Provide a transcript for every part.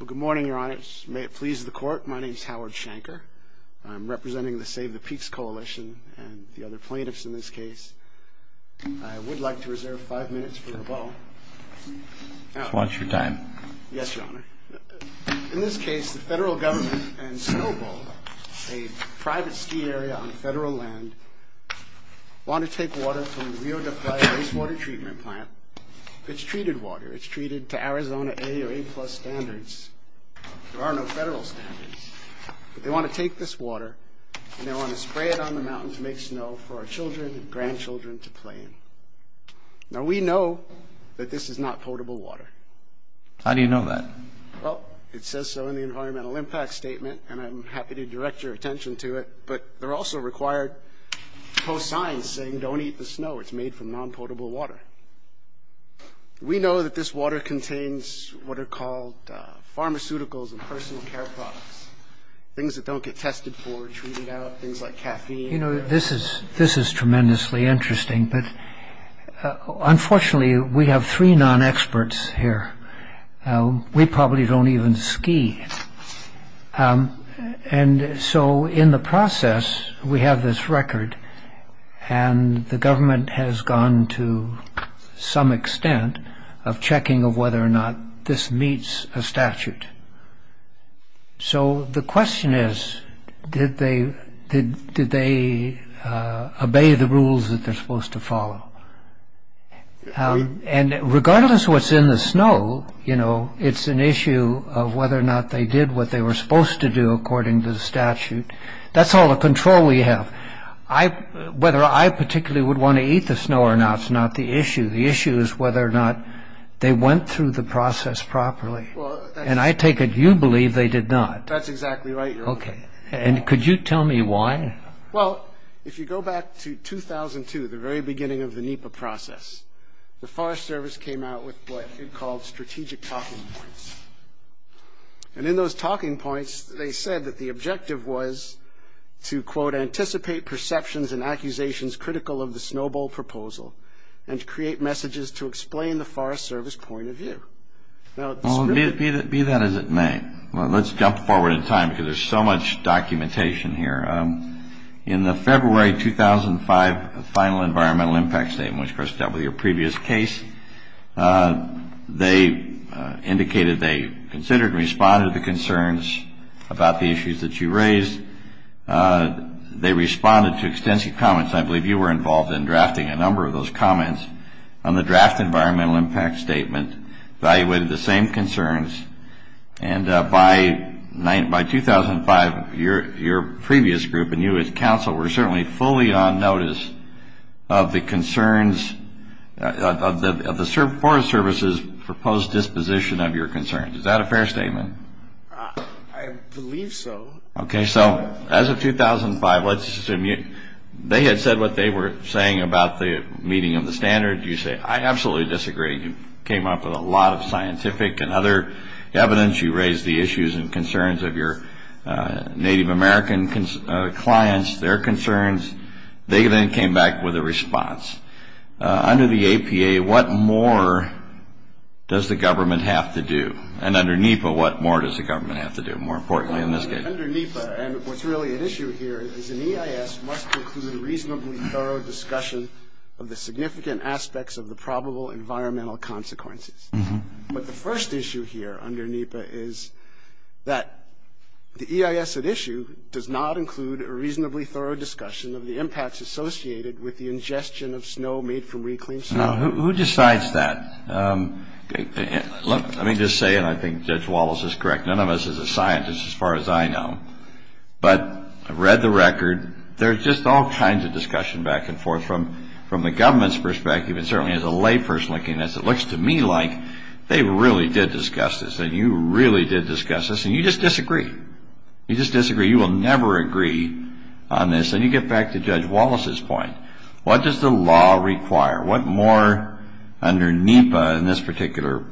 Well, good morning, Your Honor. May it please the Court, my name is Howard Shanker. I'm representing the Save the Peaks Coalition and the other plaintiffs in this case. I would like to reserve five minutes for a bow. Watch your time. Yes, Your Honor. In this case, the federal government and Snowbowl, a private ski area on federal land, want to take water from the Rio de Flares Wastewater Treatment Plant. It's treated water. It's treated to Arizona A or A-plus standards. There are no federal standards. But they want to take this water and they want to spray it on the mountains to make snow for our children and grandchildren to play in. Now, we know that this is not potable water. How do you know that? Well, it says so in the Environmental Impact Statement, and I'm happy to direct your attention to it. But they're also required post-signs saying don't eat the snow. It's made from non-potable water. We know that this water contains what are called pharmaceuticals and personal care products, things that don't get tested for, treated out, things like caffeine. You know, this is tremendously interesting. But unfortunately, we have three non-experts here. We probably don't even ski. And so in the process, we have this record, and the government has gone to some extent of checking of whether or not this meets a statute. So the question is, did they obey the rules that they're supposed to follow? And regardless what's in the snow, you know, it's an issue of whether or not they did what they were supposed to do according to the statute. That's all the control we have. Whether I particularly would want to eat the snow or not is not the issue. The issue is whether or not they went through the process properly. And I take it you believe they did not. That's exactly right, Your Honor. Okay. And could you tell me why? Well, if you go back to 2002, the very beginning of the NEPA process, the Forest Service came out with what it called strategic talking points. And in those talking points, they said that the objective was to, quote, anticipate perceptions and accusations critical of the snowball proposal and to create messages to explain the Forest Service point of view. Be that as it may, let's jump forward in time because there's so much documentation here. In the February 2005 final environmental impact statement, which of course dealt with your previous case, they indicated they considered and responded to concerns about the issues that you raised. They responded to extensive comments. I believe you were involved in drafting a number of those comments on the draft environmental impact statement, evaluated the same concerns. And by 2005, your previous group and you as counsel were certainly fully on notice of the concerns, of the Forest Service's proposed disposition of your concerns. Is that a fair statement? I believe so. Okay. So as of 2005, let's assume they had said what they were saying about the meeting of the standard. You say, I absolutely disagree. You came up with a lot of scientific and other evidence. You raised the issues and concerns of your Native American clients, their concerns. They then came back with a response. Under the APA, what more does the government have to do? And under NEPA, what more does the government have to do? More importantly in this case. Under NEPA, and what's really at issue here, is an EIS must include a reasonably thorough discussion of the significant aspects of the probable environmental consequences. But the first issue here under NEPA is that the EIS at issue does not include a reasonably thorough discussion of the impacts associated with the ingestion of snow made from reclaimed snow. Now, who decides that? Let me just say, and I think Judge Wallace is correct, none of us is a scientist as far as I know. But I've read the record. There's just all kinds of discussion back and forth. From the government's perspective, and certainly as a lay person looking at this, it looks to me like they really did discuss this, and you really did discuss this, and you just disagree. You just disagree. You will never agree on this. And you get back to Judge Wallace's point. What does the law require? What more under NEPA in this particular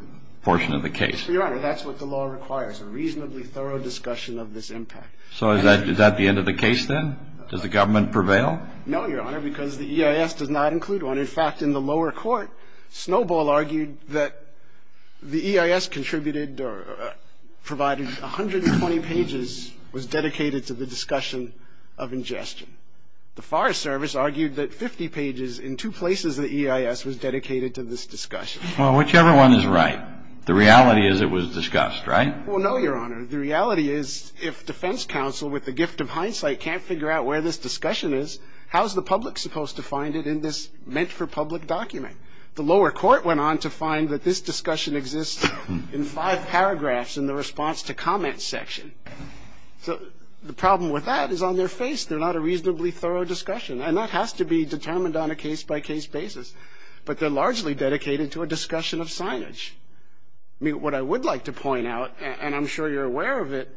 portion of the case? Your Honor, that's what the law requires. A reasonably thorough discussion of this impact. So is that the end of the case then? Does the government prevail? No, Your Honor, because the EIS does not include one. In fact, in the lower court, Snowball argued that the EIS contributed or provided 120 pages, was dedicated to the discussion of ingestion. The Forest Service argued that 50 pages in two places of the EIS was dedicated to this discussion. Well, whichever one is right, the reality is it was discussed, right? Well, no, Your Honor. The reality is if defense counsel with the gift of hindsight can't figure out where this discussion is, how is the public supposed to find it in this meant-for-public document? The lower court went on to find that this discussion exists in five paragraphs in the response to comment section. So the problem with that is on their face. They're not a reasonably thorough discussion, and that has to be determined on a case-by-case basis. But they're largely dedicated to a discussion of signage. I mean, what I would like to point out, and I'm sure you're aware of it,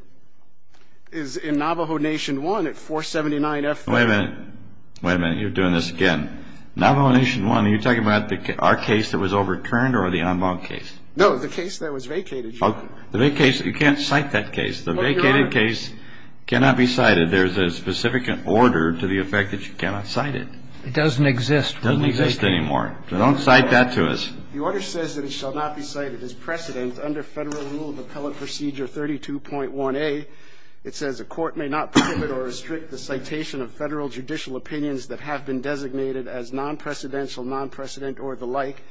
is in Navajo Nation 1 at 479F. Wait a minute. Wait a minute. You're doing this again. Navajo Nation 1, are you talking about our case that was overturned or the en banc case? No, the case that was vacated, Your Honor. The vacated case, you can't cite that case. The vacated case cannot be cited. There's a specific order to the effect that you cannot cite it. It doesn't exist. It doesn't exist anymore. So don't cite that to us. The order says that it shall not be cited as precedent under Federal Rule of Appellate Procedure 32.1a. It says a court may not permit or restrict the citation of Federal judicial opinions that have been designated as non-precedential, non-precedent, or the like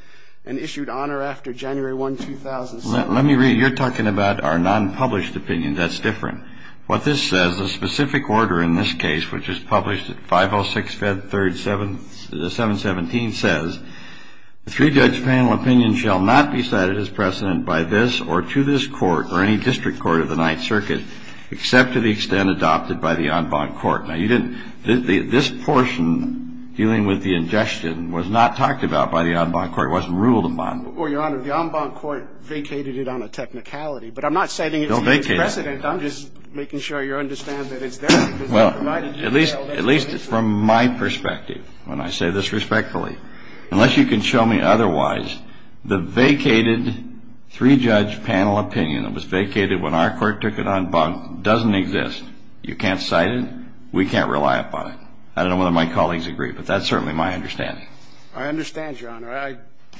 and issued on or after January 1, 2007. Let me read. You're talking about our non-published opinion. That's different. What this says, a specific order in this case, which is published at 506 Fed 3rd 717, says the three-judge panel opinion shall not be cited as precedent by this or to this court or any district court of the Ninth Circuit except to the extent adopted by the en banc court. Now, you didn't – this portion dealing with the ingestion was not talked about by the en banc court. It wasn't ruled upon. Well, Your Honor, the en banc court vacated it on a technicality. But I'm not citing it as precedent. Don't vacate it. I'm just making sure you understand that it's there. Well, at least from my perspective, when I say this respectfully, unless you can show me otherwise, the vacated three-judge panel opinion that was vacated when our court took it on en banc doesn't exist. You can't cite it. We can't rely upon it. I don't know whether my colleagues agree, but that's certainly my understanding. I understand, Your Honor. I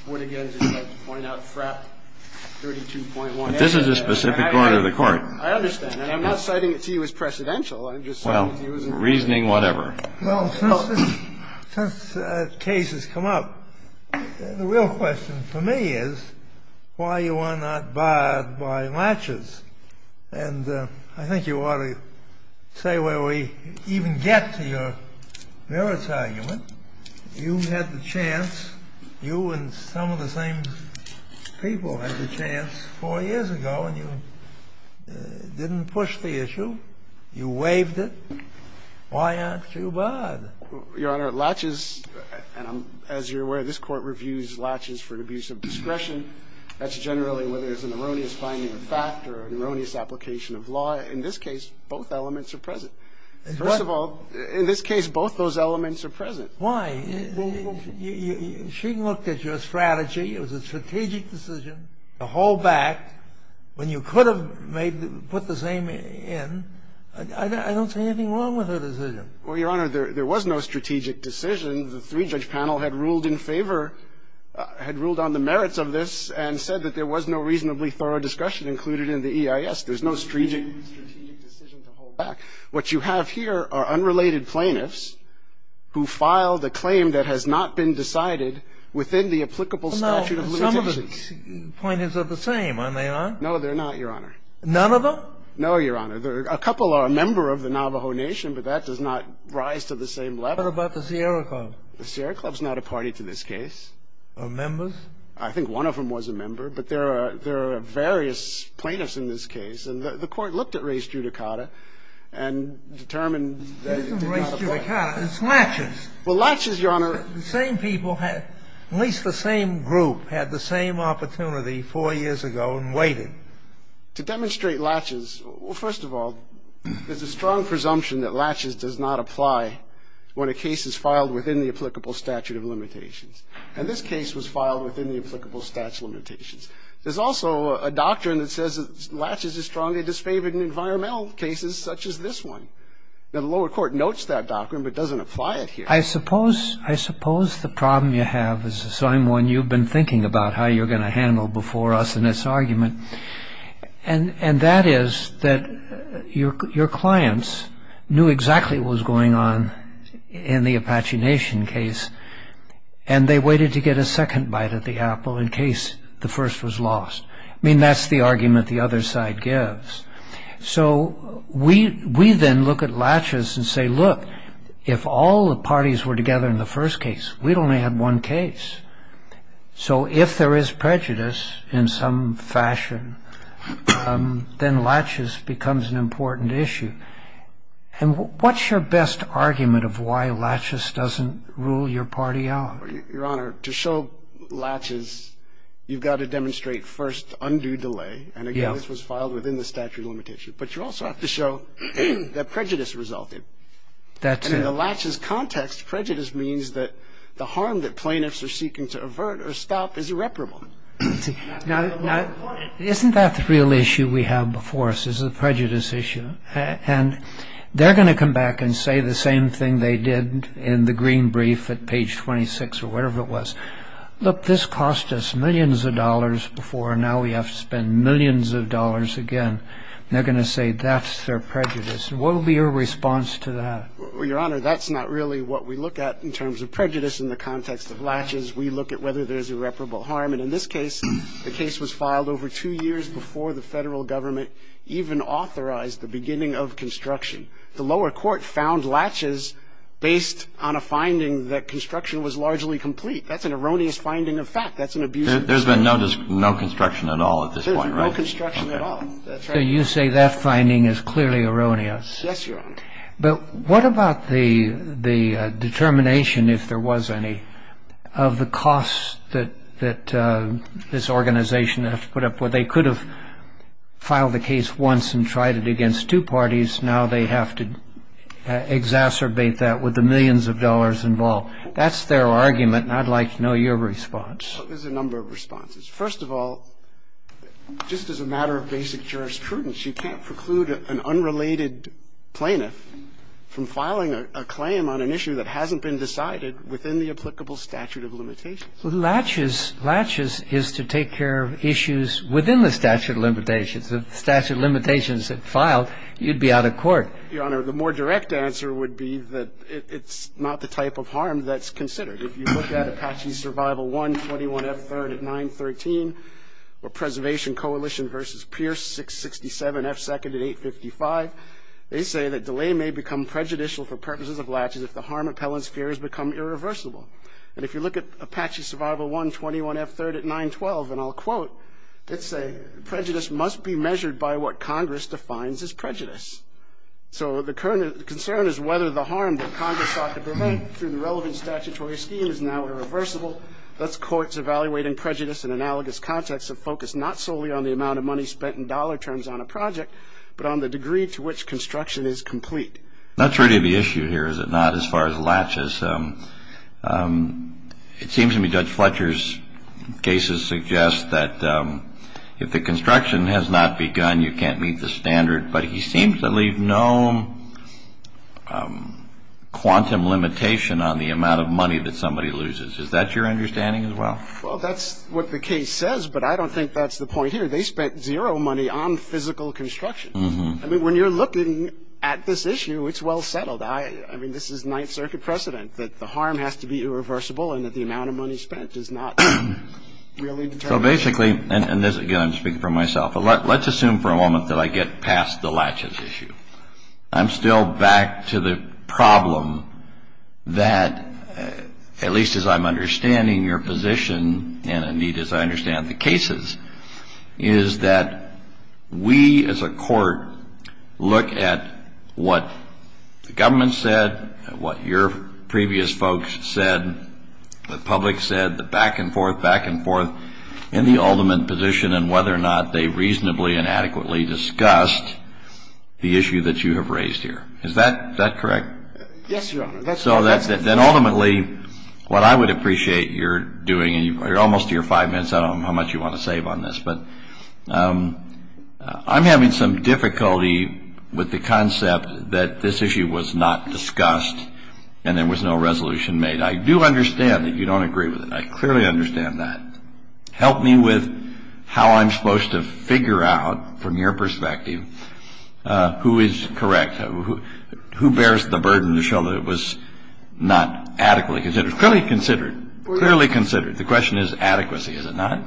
would again just like to point out FRAP 32.1. But this is a specific order of the court. I understand. And I'm not citing it to you as precedential. I'm just citing it to you as a precedent. Well, reasoning whatever. Well, since the case has come up, the real question for me is why you are not barred by matches. And I think you ought to say where we even get to your merits argument. You had the chance, you and some of the same people had the chance four years ago, and you didn't push the issue. You waived it. Why aren't you barred? Your Honor, latches, as you're aware, this Court reviews latches for an abuse of discretion. That's generally whether it's an erroneous finding of fact or an erroneous application of law. In this case, both elements are present. First of all, in this case, both those elements are present. Why? She looked at your strategy. It was a strategic decision to hold back. When you could have put the same in, I don't see anything wrong with her decision. Well, Your Honor, there was no strategic decision. The three-judge panel had ruled in favor, had ruled on the merits of this and said that there was no reasonably thorough discussion included in the EIS. There's no strategic decision to hold back. What you have here are unrelated plaintiffs who filed a claim that has not been decided within the applicable statute of limitations. None of the plaintiffs are the same, are they, Your Honor? No, they're not, Your Honor. None of them? No, Your Honor. A couple are a member of the Navajo Nation, but that does not rise to the same level. What about the Sierra Club? The Sierra Club's not a party to this case. Are members? I think one of them was a member, but there are various plaintiffs in this case, and the Court looked at race judicata and determined that it did not apply. It isn't race judicata. It's latches. Well, latches, Your Honor. The same people, at least the same group, had the same opportunity four years ago and waited. To demonstrate latches, well, first of all, there's a strong presumption that latches does not apply when a case is filed within the applicable statute of limitations. And this case was filed within the applicable statute of limitations. There's also a doctrine that says that latches is strongly disfavored in environmental cases such as this one. Now, the lower court notes that doctrine but doesn't apply it here. I suppose the problem you have is the same one you've been thinking about, how you're going to handle before us in this argument. And that is that your clients knew exactly what was going on in the Apache Nation case, and they waited to get a second bite at the apple in case the first was lost. I mean, that's the argument the other side gives. So we then look at latches and say, look, if all the parties were together in the first case, we'd only have one case. So if there is prejudice in some fashion, then latches becomes an important issue. And what's your best argument of why latches doesn't rule your party out? Your Honor, to show latches, you've got to demonstrate first undue delay. And again, this was filed within the statute of limitations. But you also have to show that prejudice resulted. And in the latches context, prejudice means that the harm that plaintiffs are seeking to avert or stop is irreparable. Now, isn't that the real issue we have before us is the prejudice issue? And they're going to come back and say the same thing they did in the green brief at page 26 or wherever it was. Look, this cost us millions of dollars before. Now we have to spend millions of dollars again. And they're going to say that's their prejudice. What would be your response to that? Well, Your Honor, that's not really what we look at in terms of prejudice in the context of latches. We look at whether there's irreparable harm. And in this case, the case was filed over two years before the federal government even authorized the beginning of construction. The lower court found latches based on a finding that construction was largely complete. That's an erroneous finding of fact. That's an abusive finding. There's been no construction at all at this point, right? There's no construction at all. That's right. So you say that finding is clearly erroneous. Yes, Your Honor. But what about the determination, if there was any, of the cost that this organization has put up? Well, they could have filed the case once and tried it against two parties. Now they have to exacerbate that with the millions of dollars involved. That's their argument, and I'd like to know your response. There's a number of responses. First of all, just as a matter of basic jurisprudence, you can't preclude an unrelated plaintiff from filing a claim on an issue that hasn't been decided within the applicable statute of limitations. Well, latches is to take care of issues within the statute of limitations. If the statute of limitations had filed, you'd be out of court. Your Honor, the more direct answer would be that it's not the type of harm that's considered. If you look at Apache Survival 121F3rd at 913, or Preservation Coalition v. Pierce 667F2nd at 855, they say that delay may become prejudicial for purposes of latches if the harm appellants fear has become irreversible. And if you look at Apache Survival 121F3rd at 912, and I'll quote, they say prejudice must be measured by what Congress defines as prejudice. So the concern is whether the harm that Congress sought to prevent through the relevant statutory scheme is now irreversible. Thus, courts evaluating prejudice in analogous contexts have focused not solely on the amount of money spent in dollar terms on a project, but on the degree to which construction is complete. Not true to the issue here, is it not, as far as latches? It seems to me Judge Fletcher's cases suggest that if the construction has not begun, you can't meet the standard, but he seems to leave no quantum limitation on the amount of money that somebody loses. Is that your understanding as well? Well, that's what the case says, but I don't think that's the point here. They spent zero money on physical construction. I mean, when you're looking at this issue, it's well settled. I mean, this is Ninth Circuit precedent that the harm has to be irreversible and that the amount of money spent is not really determined. So basically, and again, I'm speaking for myself, let's assume for a moment that I get past the latches issue. I'm still back to the problem that, at least as I'm understanding your position, and, Anita, as I understand the cases, is that we as a court look at what the government said, what your previous folks said, the public said, the back and forth, back and forth, and the ultimate position and whether or not they reasonably and adequately discussed the issue that you have raised here. Is that correct? Yes, Your Honor. So that's it. Then ultimately, what I would appreciate your doing, and you're almost to your five minutes. I don't know how much you want to save on this, but I'm having some difficulty with the concept that this issue was not discussed and there was no resolution made. I do understand that you don't agree with it. I clearly understand that. Help me with how I'm supposed to figure out, from your perspective, who is correct, who bears the burden to show that it was not adequately considered. Clearly considered. Clearly considered. The question is adequacy, is it not?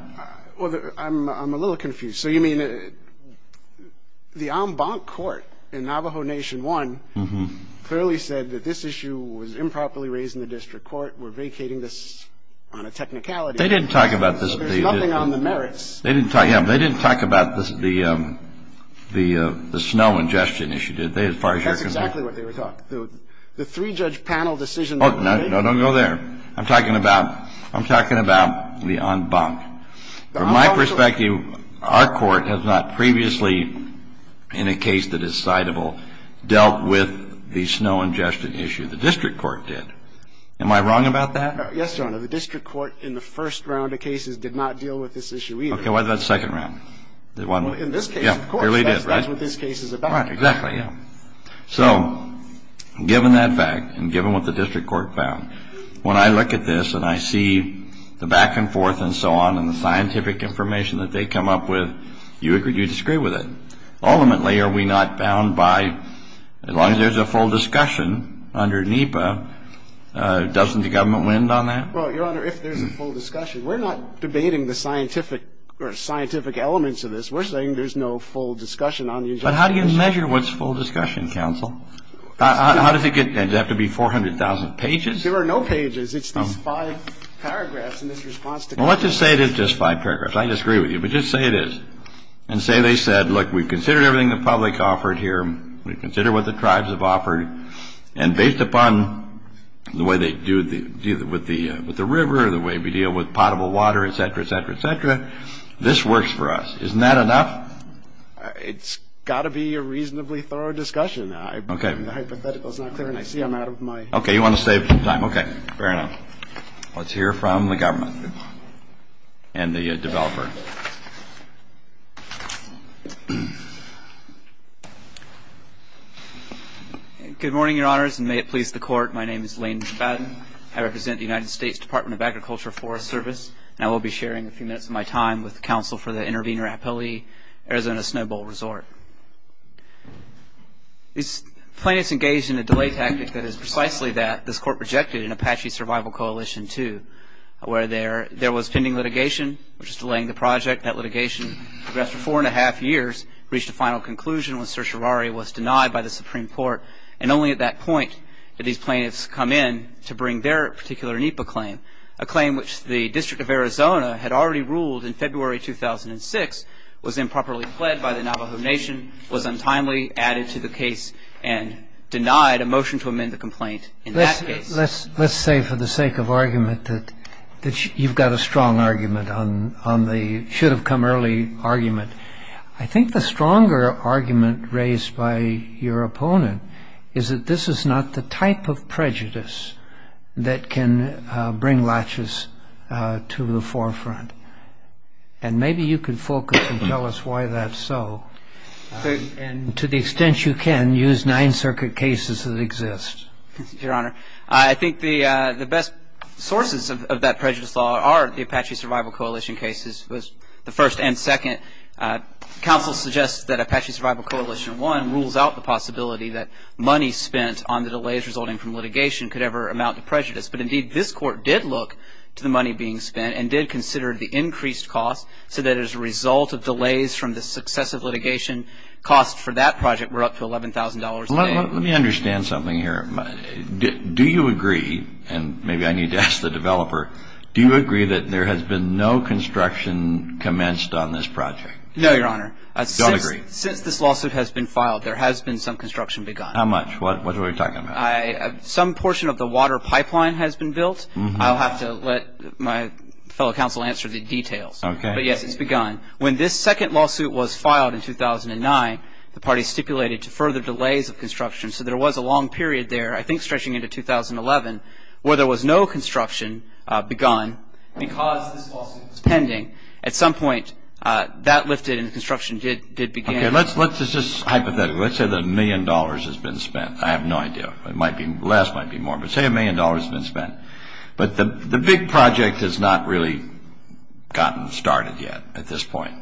Well, I'm a little confused. So you mean the en banc court in Navajo Nation 1 clearly said that this issue was improperly raised in the district court. We're vacating this on a technicality. They didn't talk about this. There's nothing on the merits. They didn't talk about the snow ingestion issue. That's exactly what they were talking about. The three-judge panel decision. No, don't go there. I'm talking about the en banc. From my perspective, our court has not previously, in a case that is citable, dealt with the snow ingestion issue. The district court did. Am I wrong about that? Yes, Your Honor. The district court in the first round of cases did not deal with this issue either. Okay. What about the second round? In this case, of course, that's what this case is about. Exactly, yeah. So given that fact and given what the district court found, when I look at this and I see the back and forth and so on and the scientific information that they come up with, you disagree with it. Ultimately, are we not bound by, as long as there's a full discussion under NEPA, doesn't the government win on that? Well, Your Honor, if there's a full discussion. We're not debating the scientific elements of this. But how do you measure what's full discussion, counsel? Does it have to be 400,000 pages? There are no pages. It's these five paragraphs in this response to counsel. Well, let's just say it is just five paragraphs. I disagree with you, but just say it is. And say they said, look, we've considered everything the public offered here. We've considered what the tribes have offered. And based upon the way they deal with the river or the way we deal with potable water, et cetera, et cetera, et cetera, this works for us. Isn't that enough? It's got to be a reasonably thorough discussion. The hypothetical is not clear, and I see I'm out of my time. Okay, you want to save time. Okay, fair enough. Let's hear from the government and the developer. Good morning, Your Honors, and may it please the Court. My name is Lane Spadden. I represent the United States Department of Agriculture Forest Service. And I will be sharing a few minutes of my time with counsel for the Intervenor Appellee Arizona Snowbowl Resort. These plaintiffs engaged in a delay tactic that is precisely that this Court projected in Apache Survival Coalition 2, where there was pending litigation, which is delaying the project. That litigation progressed for four and a half years, reached a final conclusion when Sir Chirari was denied by the Supreme Court, and only at that point did these plaintiffs come in to bring their particular NEPA claim, a claim which the District of Arizona had already ruled in February 2006 was improperly pled by the Navajo Nation, was untimely added to the case, and denied a motion to amend the complaint in that case. Let's say for the sake of argument that you've got a strong argument on the should-have-come-early argument. I think the stronger argument raised by your opponent is that this is not the type of prejudice that can bring laches to the forefront. And maybe you could focus and tell us why that's so, and to the extent you can, use nine circuit cases that exist. Your Honor, I think the best sources of that prejudice law are the Apache Survival Coalition cases, the first and second. Counsel suggests that Apache Survival Coalition 1 rules out the possibility that money spent on the delays resulting from litigation could ever amount to prejudice. But indeed, this Court did look to the money being spent, and did consider the increased cost, so that as a result of delays from the successive litigation, costs for that project were up to $11,000 a day. Let me understand something here. Do you agree, and maybe I need to ask the developer, do you agree that there has been no construction commenced on this project? No, Your Honor. I don't agree. Since this lawsuit has been filed, there has been some construction begun. How much? What are we talking about? Some portion of the water pipeline has been built. I'll have to let my fellow counsel answer the details. Okay. But, yes, it's begun. When this second lawsuit was filed in 2009, the party stipulated to further delays of construction, so there was a long period there, I think stretching into 2011, where there was no construction begun because this lawsuit was pending. At some point, that lifted and construction did begin. Okay, let's just hypothetical. Let's say that a million dollars has been spent. I have no idea. It might be less. It might be more. But say a million dollars has been spent. But the big project has not really gotten started yet at this point.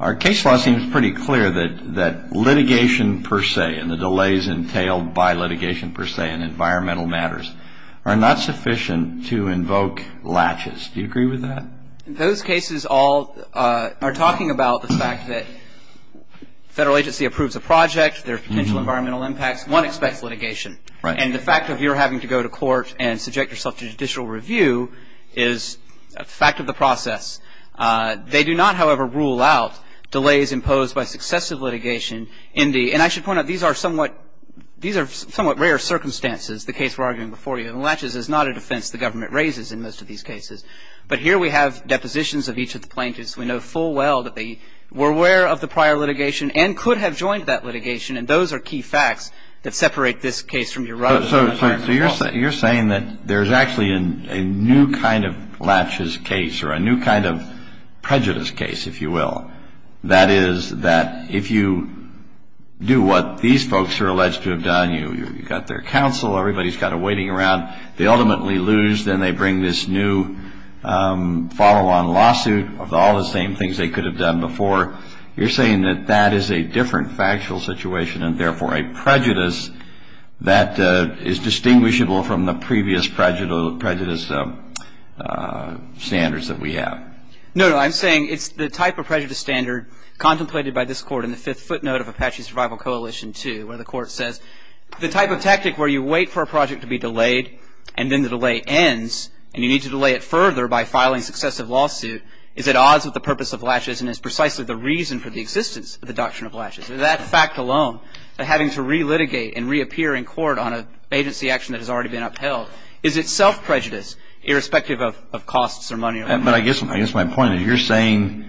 Our case law seems pretty clear that litigation per se and the delays entailed by litigation per se in environmental matters are not sufficient to invoke latches. Do you agree with that? Those cases all are talking about the fact that federal agency approves a project, there are potential environmental impacts, one expects litigation. And the fact that you're having to go to court and subject yourself to judicial review is a fact of the process. They do not, however, rule out delays imposed by successive litigation. And I should point out these are somewhat rare circumstances, the case we're arguing before you. And latches is not a defense the government raises in most of these cases. But here we have depositions of each of the plaintiffs. We know full well that they were aware of the prior litigation and could have joined that litigation. And those are key facts that separate this case from your other. So you're saying that there's actually a new kind of latches case or a new kind of prejudice case, if you will. That is that if you do what these folks are alleged to have done, you've got their counsel, everybody's got a waiting around, they ultimately lose, then they bring this new follow-on lawsuit of all the same things they could have done before. You're saying that that is a different factual situation and therefore a prejudice that is distinguishable from the previous prejudice standards that we have. No, no. I'm saying it's the type of prejudice standard contemplated by this Court in the fifth footnote of Apache Survival Coalition 2 where the Court says the type of tactic where you wait for a project to be delayed and then the delay ends and you need to delay it further by filing successive lawsuit is at odds with the purpose of latches and is precisely the reason for the existence of the doctrine of latches. That fact alone, having to re-litigate and reappear in court on an agency action that has already been upheld, is itself prejudice irrespective of costs or money. But I guess my point is you're saying,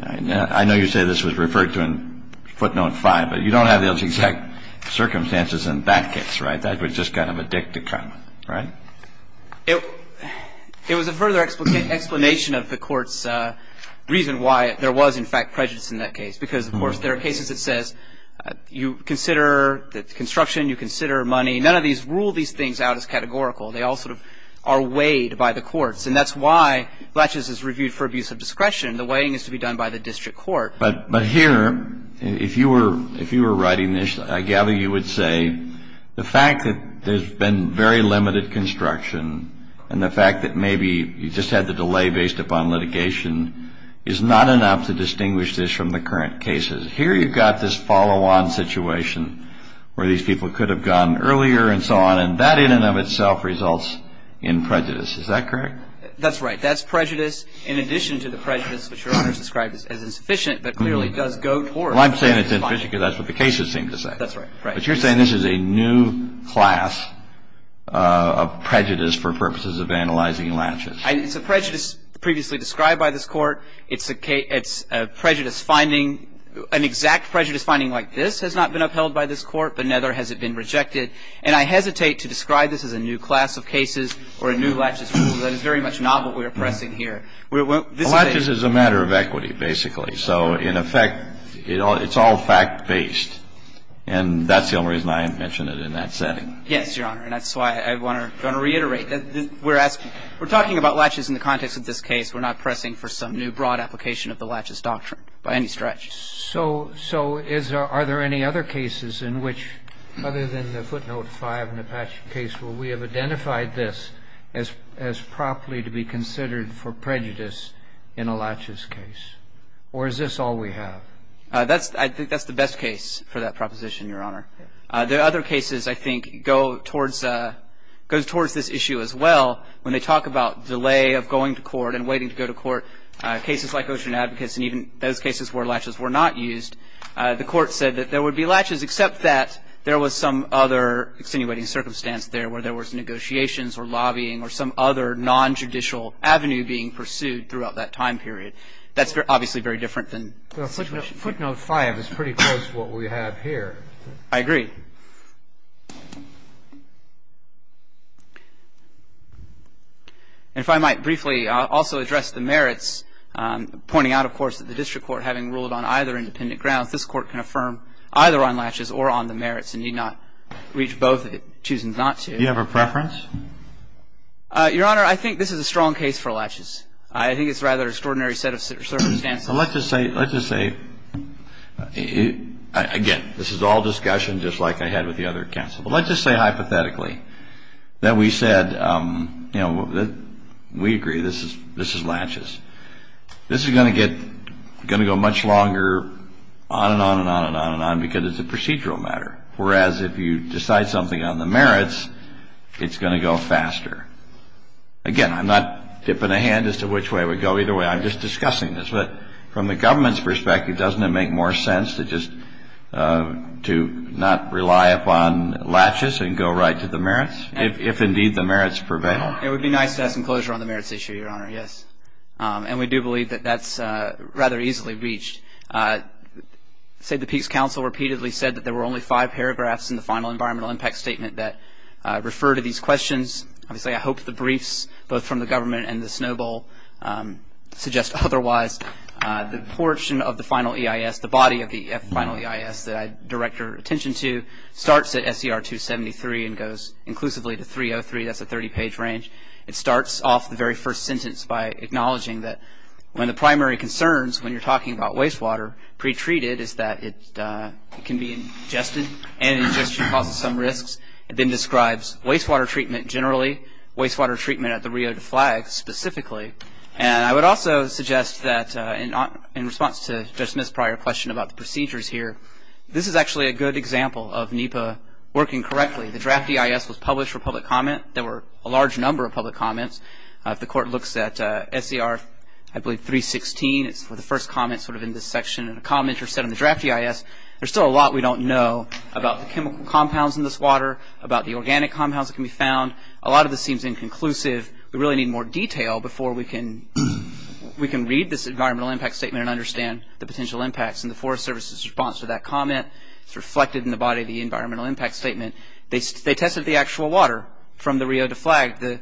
I know you say this was referred to in footnote 5, but you don't have the exact circumstances in that case, right? That was just kind of a dick to come, right? It was a further explanation of the Court's reason why there was in fact prejudice in that case because, of course, there are cases that says you consider the construction, you consider money. None of these rule these things out as categorical. They all sort of are weighed by the courts, and that's why latches is reviewed for abuse of discretion. The weighing is to be done by the district court. But here, if you were writing this, I gather you would say the fact that there's been very limited construction and the fact that maybe you just had the delay based upon litigation is not enough to distinguish this from the current cases. Here you've got this follow-on situation where these people could have gone earlier and so on, and that in and of itself results in prejudice. Is that correct? That's right. That's prejudice in addition to the prejudice which Your Honor has described as insufficient but clearly does go towards. Well, I'm saying it's insufficient because that's what the cases seem to say. That's right. But you're saying this is a new class of prejudice for purposes of analyzing latches. It's a prejudice previously described by this Court. It's a prejudice finding. An exact prejudice finding like this has not been upheld by this Court, but neither has it been rejected. And I hesitate to describe this as a new class of cases or a new latches rule. That is very much not what we are pressing here. Well, latches is a matter of equity, basically. So in effect, it's all fact-based. And that's the only reason I mention it in that setting. Yes, Your Honor. And that's why I want to reiterate. We're talking about latches in the context of this case. We're not pressing for some new broad application of the latches doctrine by any stretch. So are there any other cases in which, other than the footnote 5 in the Apache case, where we have identified this as properly to be considered for prejudice in a latches case? Or is this all we have? I think that's the best case for that proposition, Your Honor. The other cases, I think, go towards this issue as well. When they talk about delay of going to court and waiting to go to court, cases like Ocean Advocates and even those cases where latches were not used, the Court said that there would be latches, except that there was some other extenuating circumstance there where there was negotiations or lobbying or some other nonjudicial avenue being pursued throughout that time period. That's obviously very different than the situation here. Footnote 5 is pretty close to what we have here. I agree. And if I might briefly also address the merits, pointing out, of course, that the district court, having ruled on either independent grounds, this Court can affirm either on latches or on the merits and need not reach both if it chooses not to. Do you have a preference? Your Honor, I think this is a strong case for latches. I think it's rather an extraordinary set of circumstances. So let's just say, again, this is all discussion just like I had with the other counsel. But let's just say hypothetically that we said, you know, we agree this is latches. This is going to get going to go much longer on and on and on and on and on because it's a procedural matter, whereas if you decide something on the merits, it's going to go faster. Again, I'm not tipping a hand as to which way it would go either way. I'm just discussing this. But from the government's perspective, doesn't it make more sense to just to not rely upon latches and go right to the merits if, indeed, the merits prevail? It would be nice to have some closure on the merits issue, Your Honor, yes. And we do believe that that's rather easily reached. The Peace Council repeatedly said that there were only five paragraphs in the final environmental impact statement that refer to these questions. Obviously, I hope the briefs both from the government and the SNOBEL suggest otherwise. The portion of the final EIS, the body of the final EIS that I direct your attention to, starts at SCR 273 and goes inclusively to 303. That's a 30-page range. It starts off the very first sentence by acknowledging that one of the primary concerns when you're talking about wastewater pretreated is that it can be ingested and ingestion causes some risks. It then describes wastewater treatment generally, wastewater treatment at the Rio de Flags specifically. And I would also suggest that in response to Judge Smith's prior question about the procedures here, this is actually a good example of NEPA working correctly. The draft EIS was published for public comment. There were a large number of public comments. If the Court looks at SCR, I believe, 316, it's the first comment sort of in this section. A commenter said in the draft EIS, there's still a lot we don't know about the chemical compounds in this water, about the organic compounds that can be found. A lot of this seems inconclusive. We really need more detail before we can read this environmental impact statement and understand the potential impacts. And the Forest Service's response to that comment is reflected in the body of the environmental impact statement. They tested the actual water from the Rio de Flags. The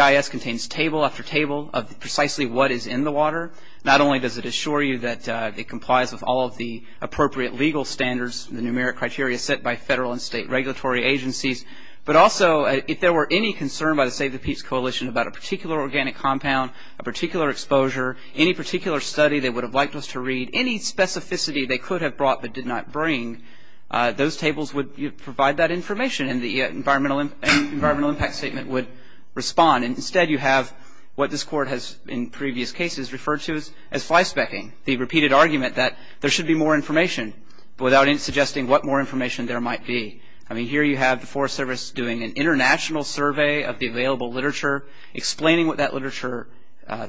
EIS contains table after table of precisely what is in the water. Not only does it assure you that it complies with all of the appropriate legal standards, the numeric criteria set by federal and state regulatory agencies, but also if there were any concern by the Save the Peats Coalition about a particular organic compound, a particular exposure, any particular study they would have liked us to read, any specificity they could have brought but did not bring, those tables would provide that information and the environmental impact statement would respond. Instead you have what this court has in previous cases referred to as flyspecking, the repeated argument that there should be more information without suggesting what more information there might be. Here you have the Forest Service doing an international survey of the available literature, explaining what that literature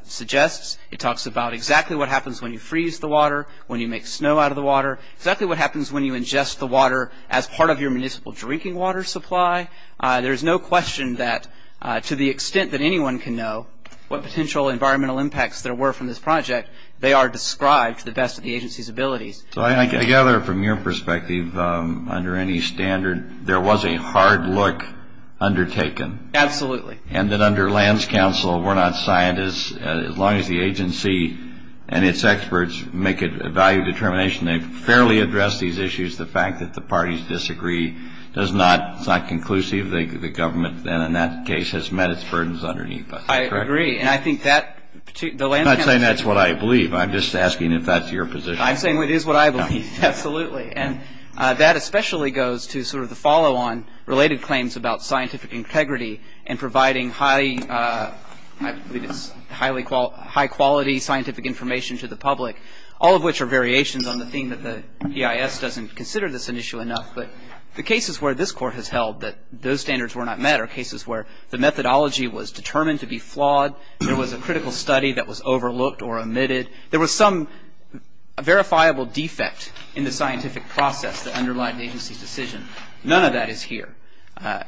suggests. It talks about exactly what happens when you freeze the water, when you make snow out of the water, exactly what happens when you ingest the water as part of your municipal drinking water supply. There is no question that, to the extent that anyone can know, what potential environmental impacts there were from this project, they are described to the best of the agency's abilities. So I gather from your perspective, under any standard, there was a hard look undertaken. Absolutely. And that under Lands Council, we're not scientists, as long as the agency and its experts make a value determination to fairly address these issues, the fact that the parties disagree is not conclusive. The government then, in that case, has met its burdens underneath us. I agree. I'm not saying that's what I believe. I'm just asking if that's your position. I'm saying it is what I believe, absolutely. And that especially goes to sort of the follow-on related claims about scientific integrity and providing high-quality scientific information to the public, all of which are variations on the theme that the EIS doesn't consider this an issue enough. But the cases where this Court has held that those standards were not met are cases where the methodology was determined to be flawed, there was a critical study that was overlooked or omitted, there was some verifiable defect in the scientific process that underlied the agency's decision. None of that is here.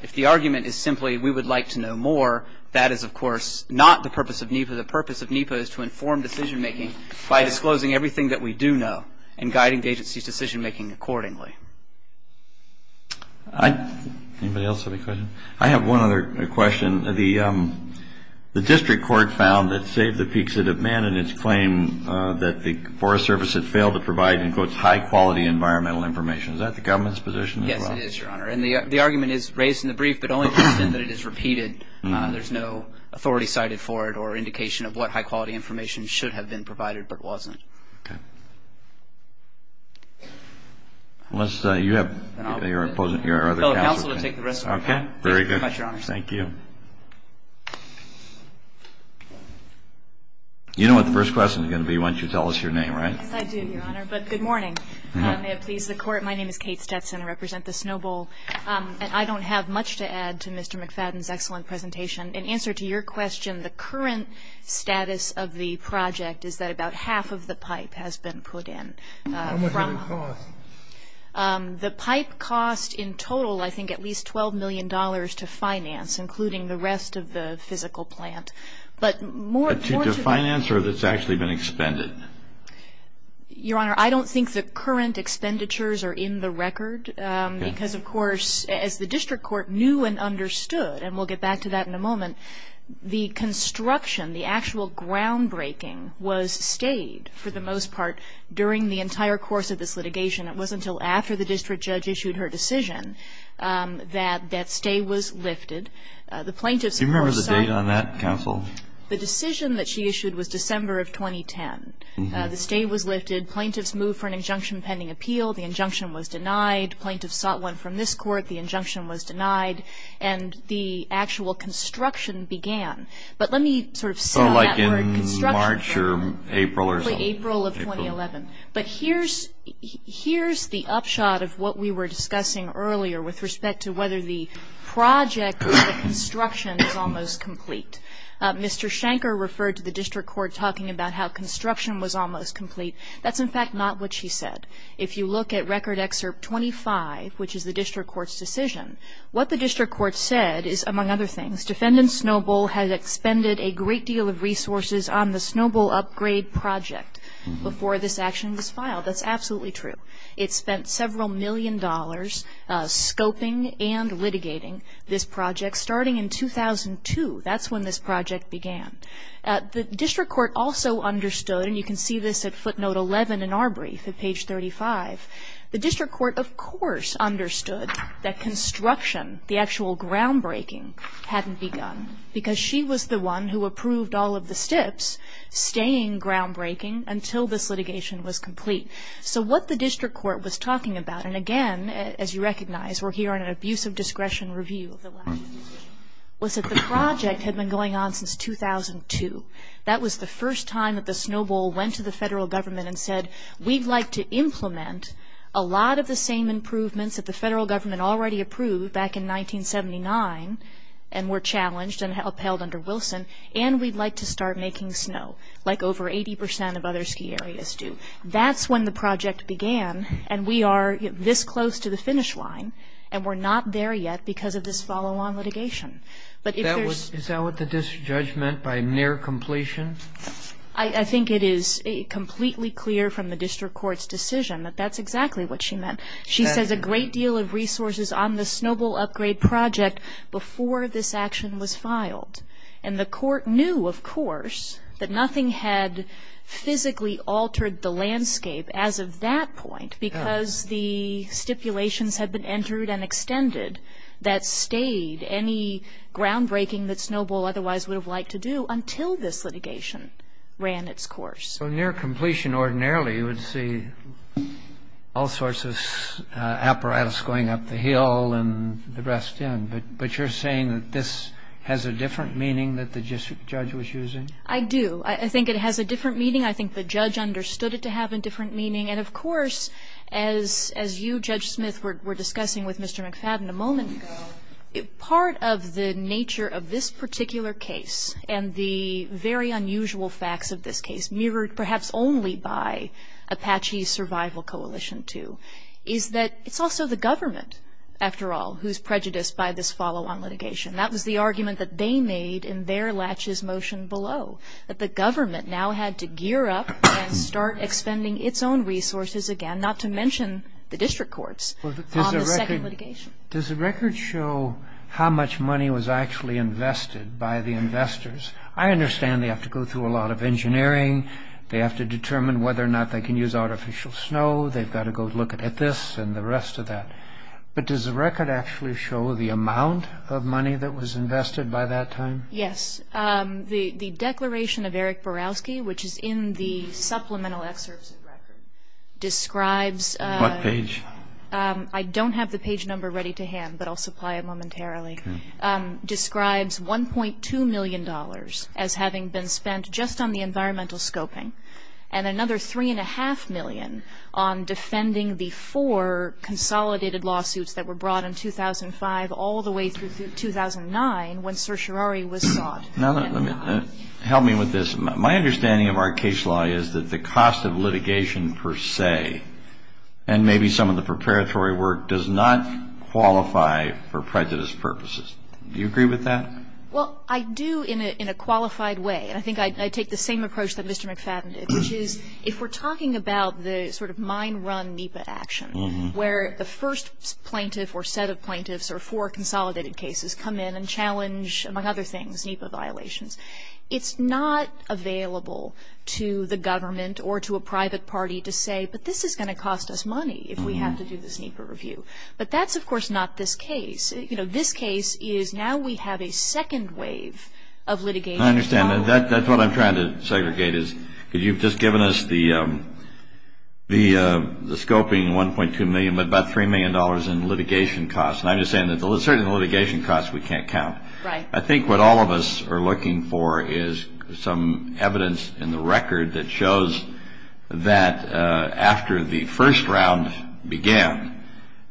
If the argument is simply, we would like to know more, that is, of course, not the purpose of NEPA. The purpose of NEPA is to inform decision-making by disclosing everything that we do know and guiding the agency's decision-making accordingly. Anybody else have a question? I have one other question. The district court found that, save the peaks that it met in its claim, that the Forest Service had failed to provide, in quotes, high-quality environmental information. Is that the government's position as well? Yes, it is, Your Honor. And the argument is raised in the brief, but only to the extent that it is repeated. There is no authority cited for it or indication of what high-quality information should have been provided but wasn't. Okay. Unless you have your other counsel to take the rest of it. Okay. Very good. Thank you very much, Your Honor. Thank you. You know what the first question is going to be once you tell us your name, right? Yes, I do, Your Honor. But good morning. May it please the Court. My name is Kate Stetson. I represent the Snow Bowl. And I don't have much to add to Mr. McFadden's excellent presentation. In answer to your question, the current status of the project is that about half of the pipe has been put in. How much did it cost? The pipe cost in total, I think, at least $12 million to finance, including the rest of the physical plant. But more to the... To finance or that's actually been expended? Your Honor, I don't think the current expenditures are in the record, because, of course, as the district court knew and understood, and we'll get back to that in a moment, the construction, the actual groundbreaking was stayed for the most part during the entire course of this litigation. It wasn't until after the district judge issued her decision that that stay was lifted. Do you remember the date on that, counsel? The decision that she issued was December of 2010. The stay was lifted. Plaintiffs moved for an injunction pending appeal. The injunction was denied. Plaintiffs sought one from this court. The injunction was denied. And the actual construction began. But let me sort of sell that word construction for April of 2011. But here's the upshot of what we were discussing earlier with respect to whether the project or the construction is almost complete. Mr. Shanker referred to the district court talking about how construction was almost complete. That's, in fact, not what she said. If you look at Record Excerpt 25, which is the district court's decision, what the district court said is, among other things, defendant Snowbull had expended a great deal of resources on the Snowbull upgrade project before this action was filed. That's absolutely true. It spent several million dollars scoping and litigating this project starting in 2002. That's when this project began. The district court also understood, and you can see this at footnote 11 in our brief at page 35, the district court, of course, understood that construction, the actual groundbreaking, hadn't begun. Because she was the one who approved all of the steps, staying groundbreaking until this litigation was complete. So what the district court was talking about, and, again, as you recognize, we're here on an abuse of discretion review of the last decision, was that the project had been going on since 2002. That was the first time that the Snowbull went to the federal government and said, we'd like to implement a lot of the same improvements that the federal government already approved back in 1979 and were challenged and upheld under Wilson, and we'd like to start making snow, like over 80% of other ski areas do. That's when the project began, and we are this close to the finish line, and we're not there yet because of this follow-on litigation. Is that what the district judge meant by near completion? I think it is completely clear from the district court's decision that that's exactly what she meant. She says a great deal of resources on the Snowbull upgrade project before this action was filed, and the court knew, of course, that nothing had physically altered the landscape as of that point because the stipulations had been entered and extended that stayed any groundbreaking that Snowbull otherwise would have liked to do until this litigation ran its course. So near completion, ordinarily, you would see all sorts of apparatus going up the hill and the rest in, but you're saying that this has a different meaning that the district judge was using? I do. I think it has a different meaning. I think the judge understood it to have a different meaning. And, of course, as you, Judge Smith, were discussing with Mr. McFadden a moment ago, part of the nature of this particular case and the very unusual facts of this case, mirrored perhaps only by Apache's survival coalition, too, is that it's also the government, after all, who's prejudiced by this follow-on litigation. That was the argument that they made in their latches motion below, that the government now had to gear up and start expending its own resources again, not to mention the district courts, on the second litigation. Does the record show how much money was actually invested by the investors? I understand they have to go through a lot of engineering. They have to determine whether or not they can use artificial snow. They've got to go look at this and the rest of that. But does the record actually show the amount of money that was invested by that time? Yes. The declaration of Eric Borowski, which is in the supplemental excerpts of the record, describes- What page? I don't have the page number ready to hand, but I'll supply it momentarily- describes $1.2 million as having been spent just on the environmental scoping and another $3.5 million on defending the four consolidated lawsuits that were brought in 2005 all the way through 2009 when certiorari was sought. Now, help me with this. My understanding of our case law is that the cost of litigation per se and maybe some of the preparatory work does not qualify for prejudice purposes. Do you agree with that? Well, I do in a qualified way, and I think I take the same approach that Mr. McFadden did, which is if we're talking about the sort of mine run NEPA action, where the first plaintiff or set of plaintiffs or four consolidated cases come in and challenge, among other things, NEPA violations, it's not available to the government or to a private party to say, but this is going to cost us money if we have to do this NEPA review. But that's, of course, not this case. You know, this case is now we have a second wave of litigation. I understand. That's what I'm trying to segregate is because you've just given us the scoping, $1.2 million, but about $3 million in litigation costs. And I'm just saying that certainly the litigation costs we can't count. Right. I think what all of us are looking for is some evidence in the record that shows that after the first round began,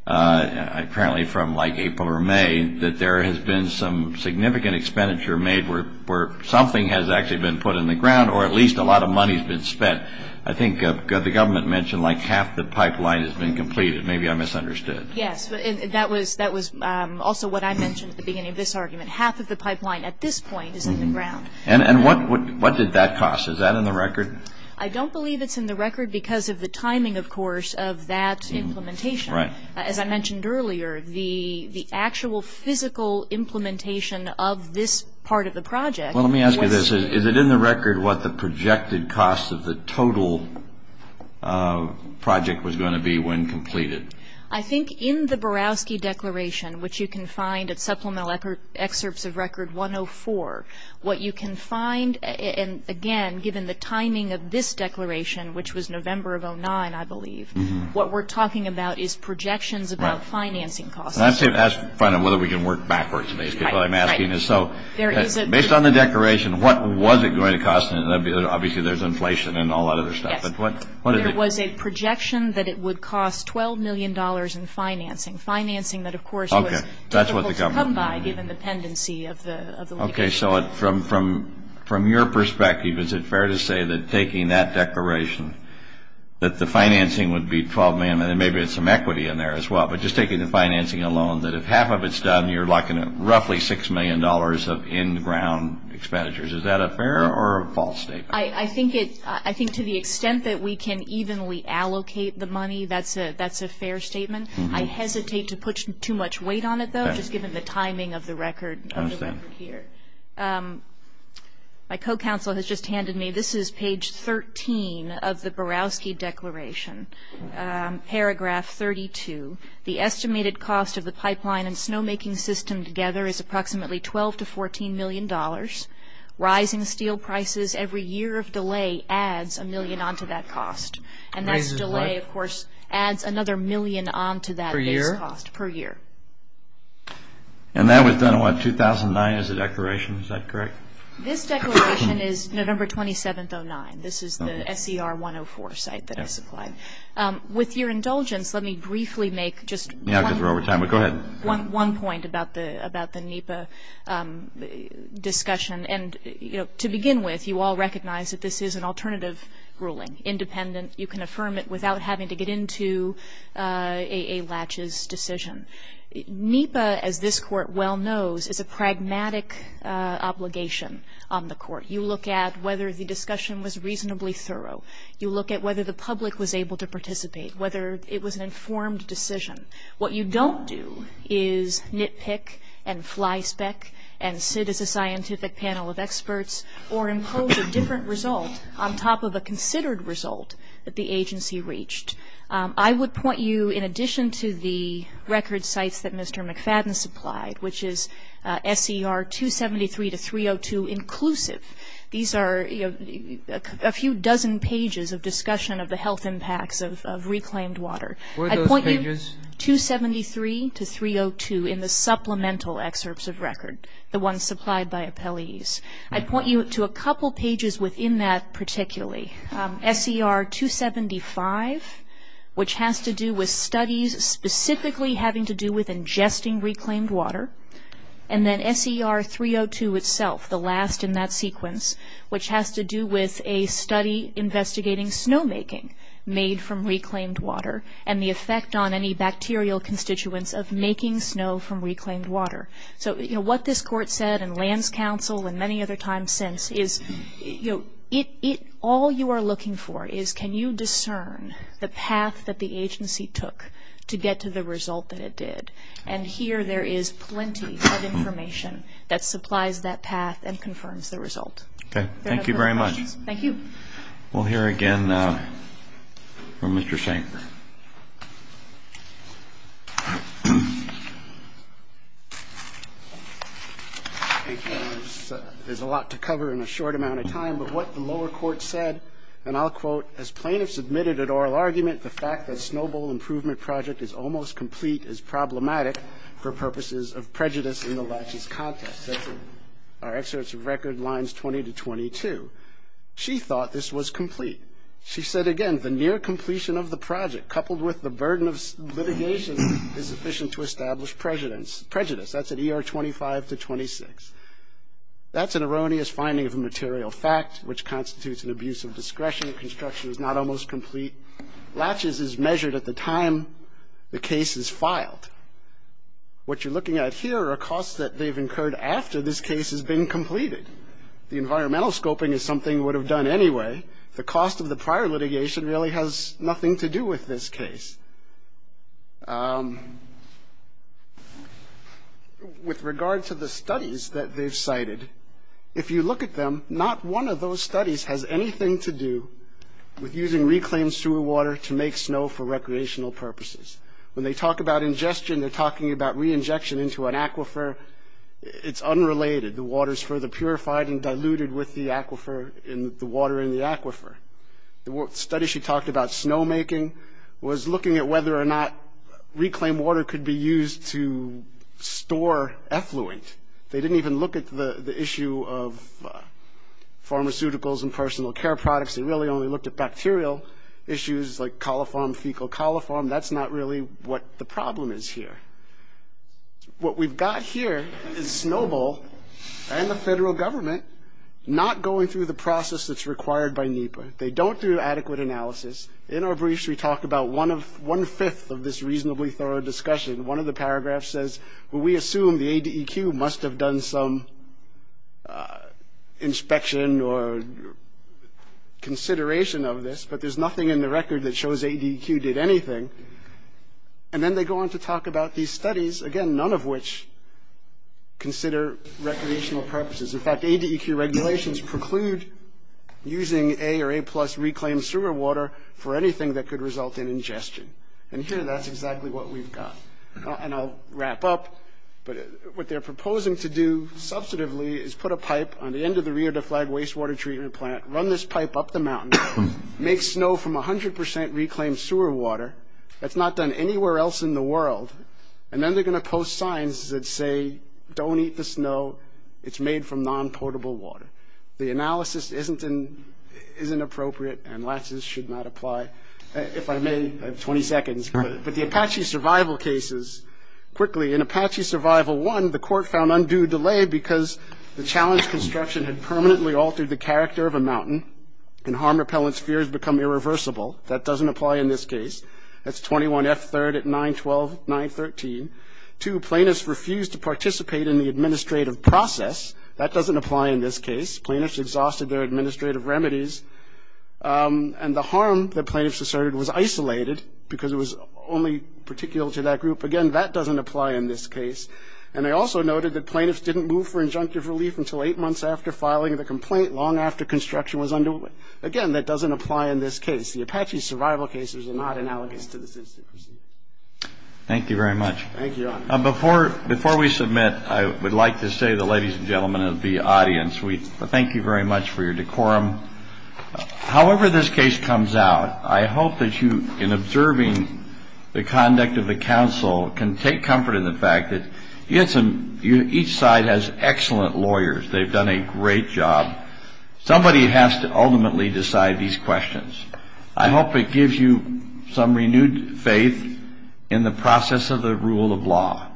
apparently from like April or May, that there has been some significant expenditure made where something has actually been put in the ground or at least a lot of money has been spent. I think the government mentioned like half the pipeline has been completed. Maybe I misunderstood. Yes. That was also what I mentioned at the beginning of this argument. Half of the pipeline at this point is in the ground. And what did that cost? Is that in the record? I don't believe it's in the record because of the timing, of course, of that implementation. Right. As I mentioned earlier, the actual physical implementation of this part of the project was ---- Well, let me ask you this. Is it in the record what the projected cost of the total project was going to be when completed? I think in the Borowski Declaration, which you can find at Supplemental Excerpts of Record 104, what you can find, and again, given the timing of this declaration, which was November of 2009, I believe, what we're talking about is projections about financing costs. Right. And that's to find out whether we can work backwards, basically, is what I'm asking. Right. Based on the declaration, what was it going to cost? Obviously, there's inflation and all that other stuff. Yes. But what is it? It was a projection that it would cost $12 million in financing, financing that, of course, was difficult to come by given the tendency of the litigation. Okay. So from your perspective, is it fair to say that taking that declaration, that the financing would be $12 million, and maybe there's some equity in there as well, but just taking the financing alone, that if half of it's done, you're locking in roughly $6 million of in-ground expenditures. Is that a fair or a false statement? I think to the extent that we can evenly allocate the money, that's a fair statement. I hesitate to put too much weight on it, though, just given the timing of the record here. I understand. My co-counsel has just handed me, this is page 13 of the Borowski Declaration, paragraph 32. The estimated cost of the pipeline and snowmaking system together is approximately $12 to $14 million. Rising steel prices every year of delay adds a million onto that cost. And that delay, of course, adds another million onto that base cost per year. And that was done in, what, 2009 as a declaration? Is that correct? This declaration is November 27th, 2009. This is the SCR 104 site that I supplied. With your indulgence, let me briefly make just one point about the NEPA, discussion. And to begin with, you all recognize that this is an alternative ruling, independent. You can affirm it without having to get into a laches decision. NEPA, as this Court well knows, is a pragmatic obligation on the Court. You look at whether the discussion was reasonably thorough. You look at whether the public was able to participate, whether it was an informed decision. What you don't do is nitpick and flyspeck and sit as a scientific panel of experts or impose a different result on top of a considered result that the agency reached. I would point you, in addition to the record sites that Mr. McFadden supplied, which is SCR 273 to 302 inclusive, these are a few dozen pages of discussion of the health impacts of reclaimed water. I'd point you to 273 to 302 in the supplemental excerpts of record, the ones supplied by appellees. I'd point you to a couple pages within that particularly. SCR 275, which has to do with studies specifically having to do with ingesting reclaimed water, and then SCR 302 itself, the last in that sequence, which has to do with a study investigating snowmaking made from reclaimed water and the effect on any bacterial constituents of making snow from reclaimed water. So, you know, what this Court said and Lands Council and many other times since is, you know, all you are looking for is can you discern the path that the agency took to get to the result that it did. And here there is plenty of information that supplies that path and confirms the result. Okay. Thank you very much. Thank you. We'll hear again from Mr. Shank. There's a lot to cover in a short amount of time. But what the lower court said, and I'll quote, as plaintiffs admitted at oral argument the fact that Snow Bowl Improvement Project is almost complete is problematic for purposes of prejudice in the laches context. Our excerpts of record lines 20 to 22. She thought this was complete. She said, again, the near completion of the project coupled with the burden of litigation is sufficient to establish prejudice. That's at ER 25 to 26. That's an erroneous finding of a material fact, which constitutes an abuse of discretion. Construction is not almost complete. Laches is measured at the time the case is filed. What you're looking at here are costs that they've incurred after this case has been completed. The environmental scoping is something they would have done anyway. The cost of the prior litigation really has nothing to do with this case. With regard to the studies that they've cited, if you look at them, not one of those studies has anything to do with using reclaimed sewer water to make snow for recreational purposes. When they talk about ingestion, they're talking about reinjection into an aquifer. It's unrelated. The water is further purified and diluted with the water in the aquifer. The study she talked about, snowmaking, was looking at whether or not reclaimed water could be used to store effluent. They didn't even look at the issue of pharmaceuticals and personal care products. They really only looked at bacterial issues like coliform, fecal coliform. That's not really what the problem is here. What we've got here is Snowball and the federal government not going through the process that's required by NEPA. They don't do adequate analysis. In our briefs, we talk about one-fifth of this reasonably thorough discussion. One of the paragraphs says, well, we assume the ADEQ must have done some inspection or consideration of this, but there's nothing in the record that shows ADEQ did anything. Then they go on to talk about these studies, again, none of which consider recreational purposes. In fact, ADEQ regulations preclude using A or A-plus reclaimed sewer water for anything that could result in ingestion. Here, that's exactly what we've got. I'll wrap up. What they're proposing to do, substantively, is put a pipe on the end of the Rio de Flagues wastewater treatment plant, run this pipe up the mountain, make snow from 100 percent reclaimed sewer water that's not done anywhere else in the world, and then they're going to post signs that say, don't eat the snow. It's made from non-portable water. The analysis isn't appropriate, and lasses should not apply. If I may, I have 20 seconds. But the Apache survival cases, quickly, in Apache survival one, the court found undue delay because the challenge construction had permanently altered the character of a mountain, and harm repellent spheres become irreversible. That doesn't apply in this case. That's 21F3rd at 912, 913. Two, plaintiffs refused to participate in the administrative process. That doesn't apply in this case. Plaintiffs exhausted their administrative remedies, and the harm that plaintiffs asserted was isolated because it was only particular to that group. Again, that doesn't apply in this case. And I also noted that plaintiffs didn't move for injunctive relief until eight months after filing the complaint, long after construction was underway. Again, that doesn't apply in this case. The Apache survival cases are not analogous to the citizen procedure. Thank you very much. Thank you, Your Honor. Before we submit, I would like to say to the ladies and gentlemen of the audience, we thank you very much for your decorum. However this case comes out, I hope that you, in observing the conduct of the counsel, can take comfort in the fact that each side has excellent lawyers. They've done a great job. Somebody has to ultimately decide these questions. I hope it gives you some renewed faith in the process of the rule of law.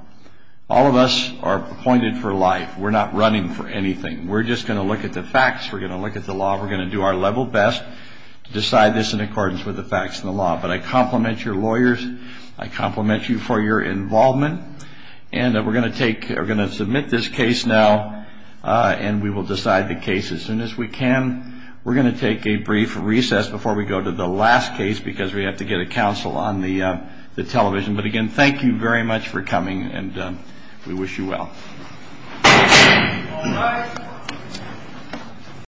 All of us are appointed for life. We're not running for anything. We're just going to look at the facts. We're going to look at the law. We're going to do our level best to decide this in accordance with the facts and the law. But I compliment your lawyers. I compliment you for your involvement. And we're going to submit this case now, and we will decide the case as soon as we can. We're going to take a brief recess before we go to the last case because we have to get a counsel on the television. But again, thank you very much for coming, and we wish you well.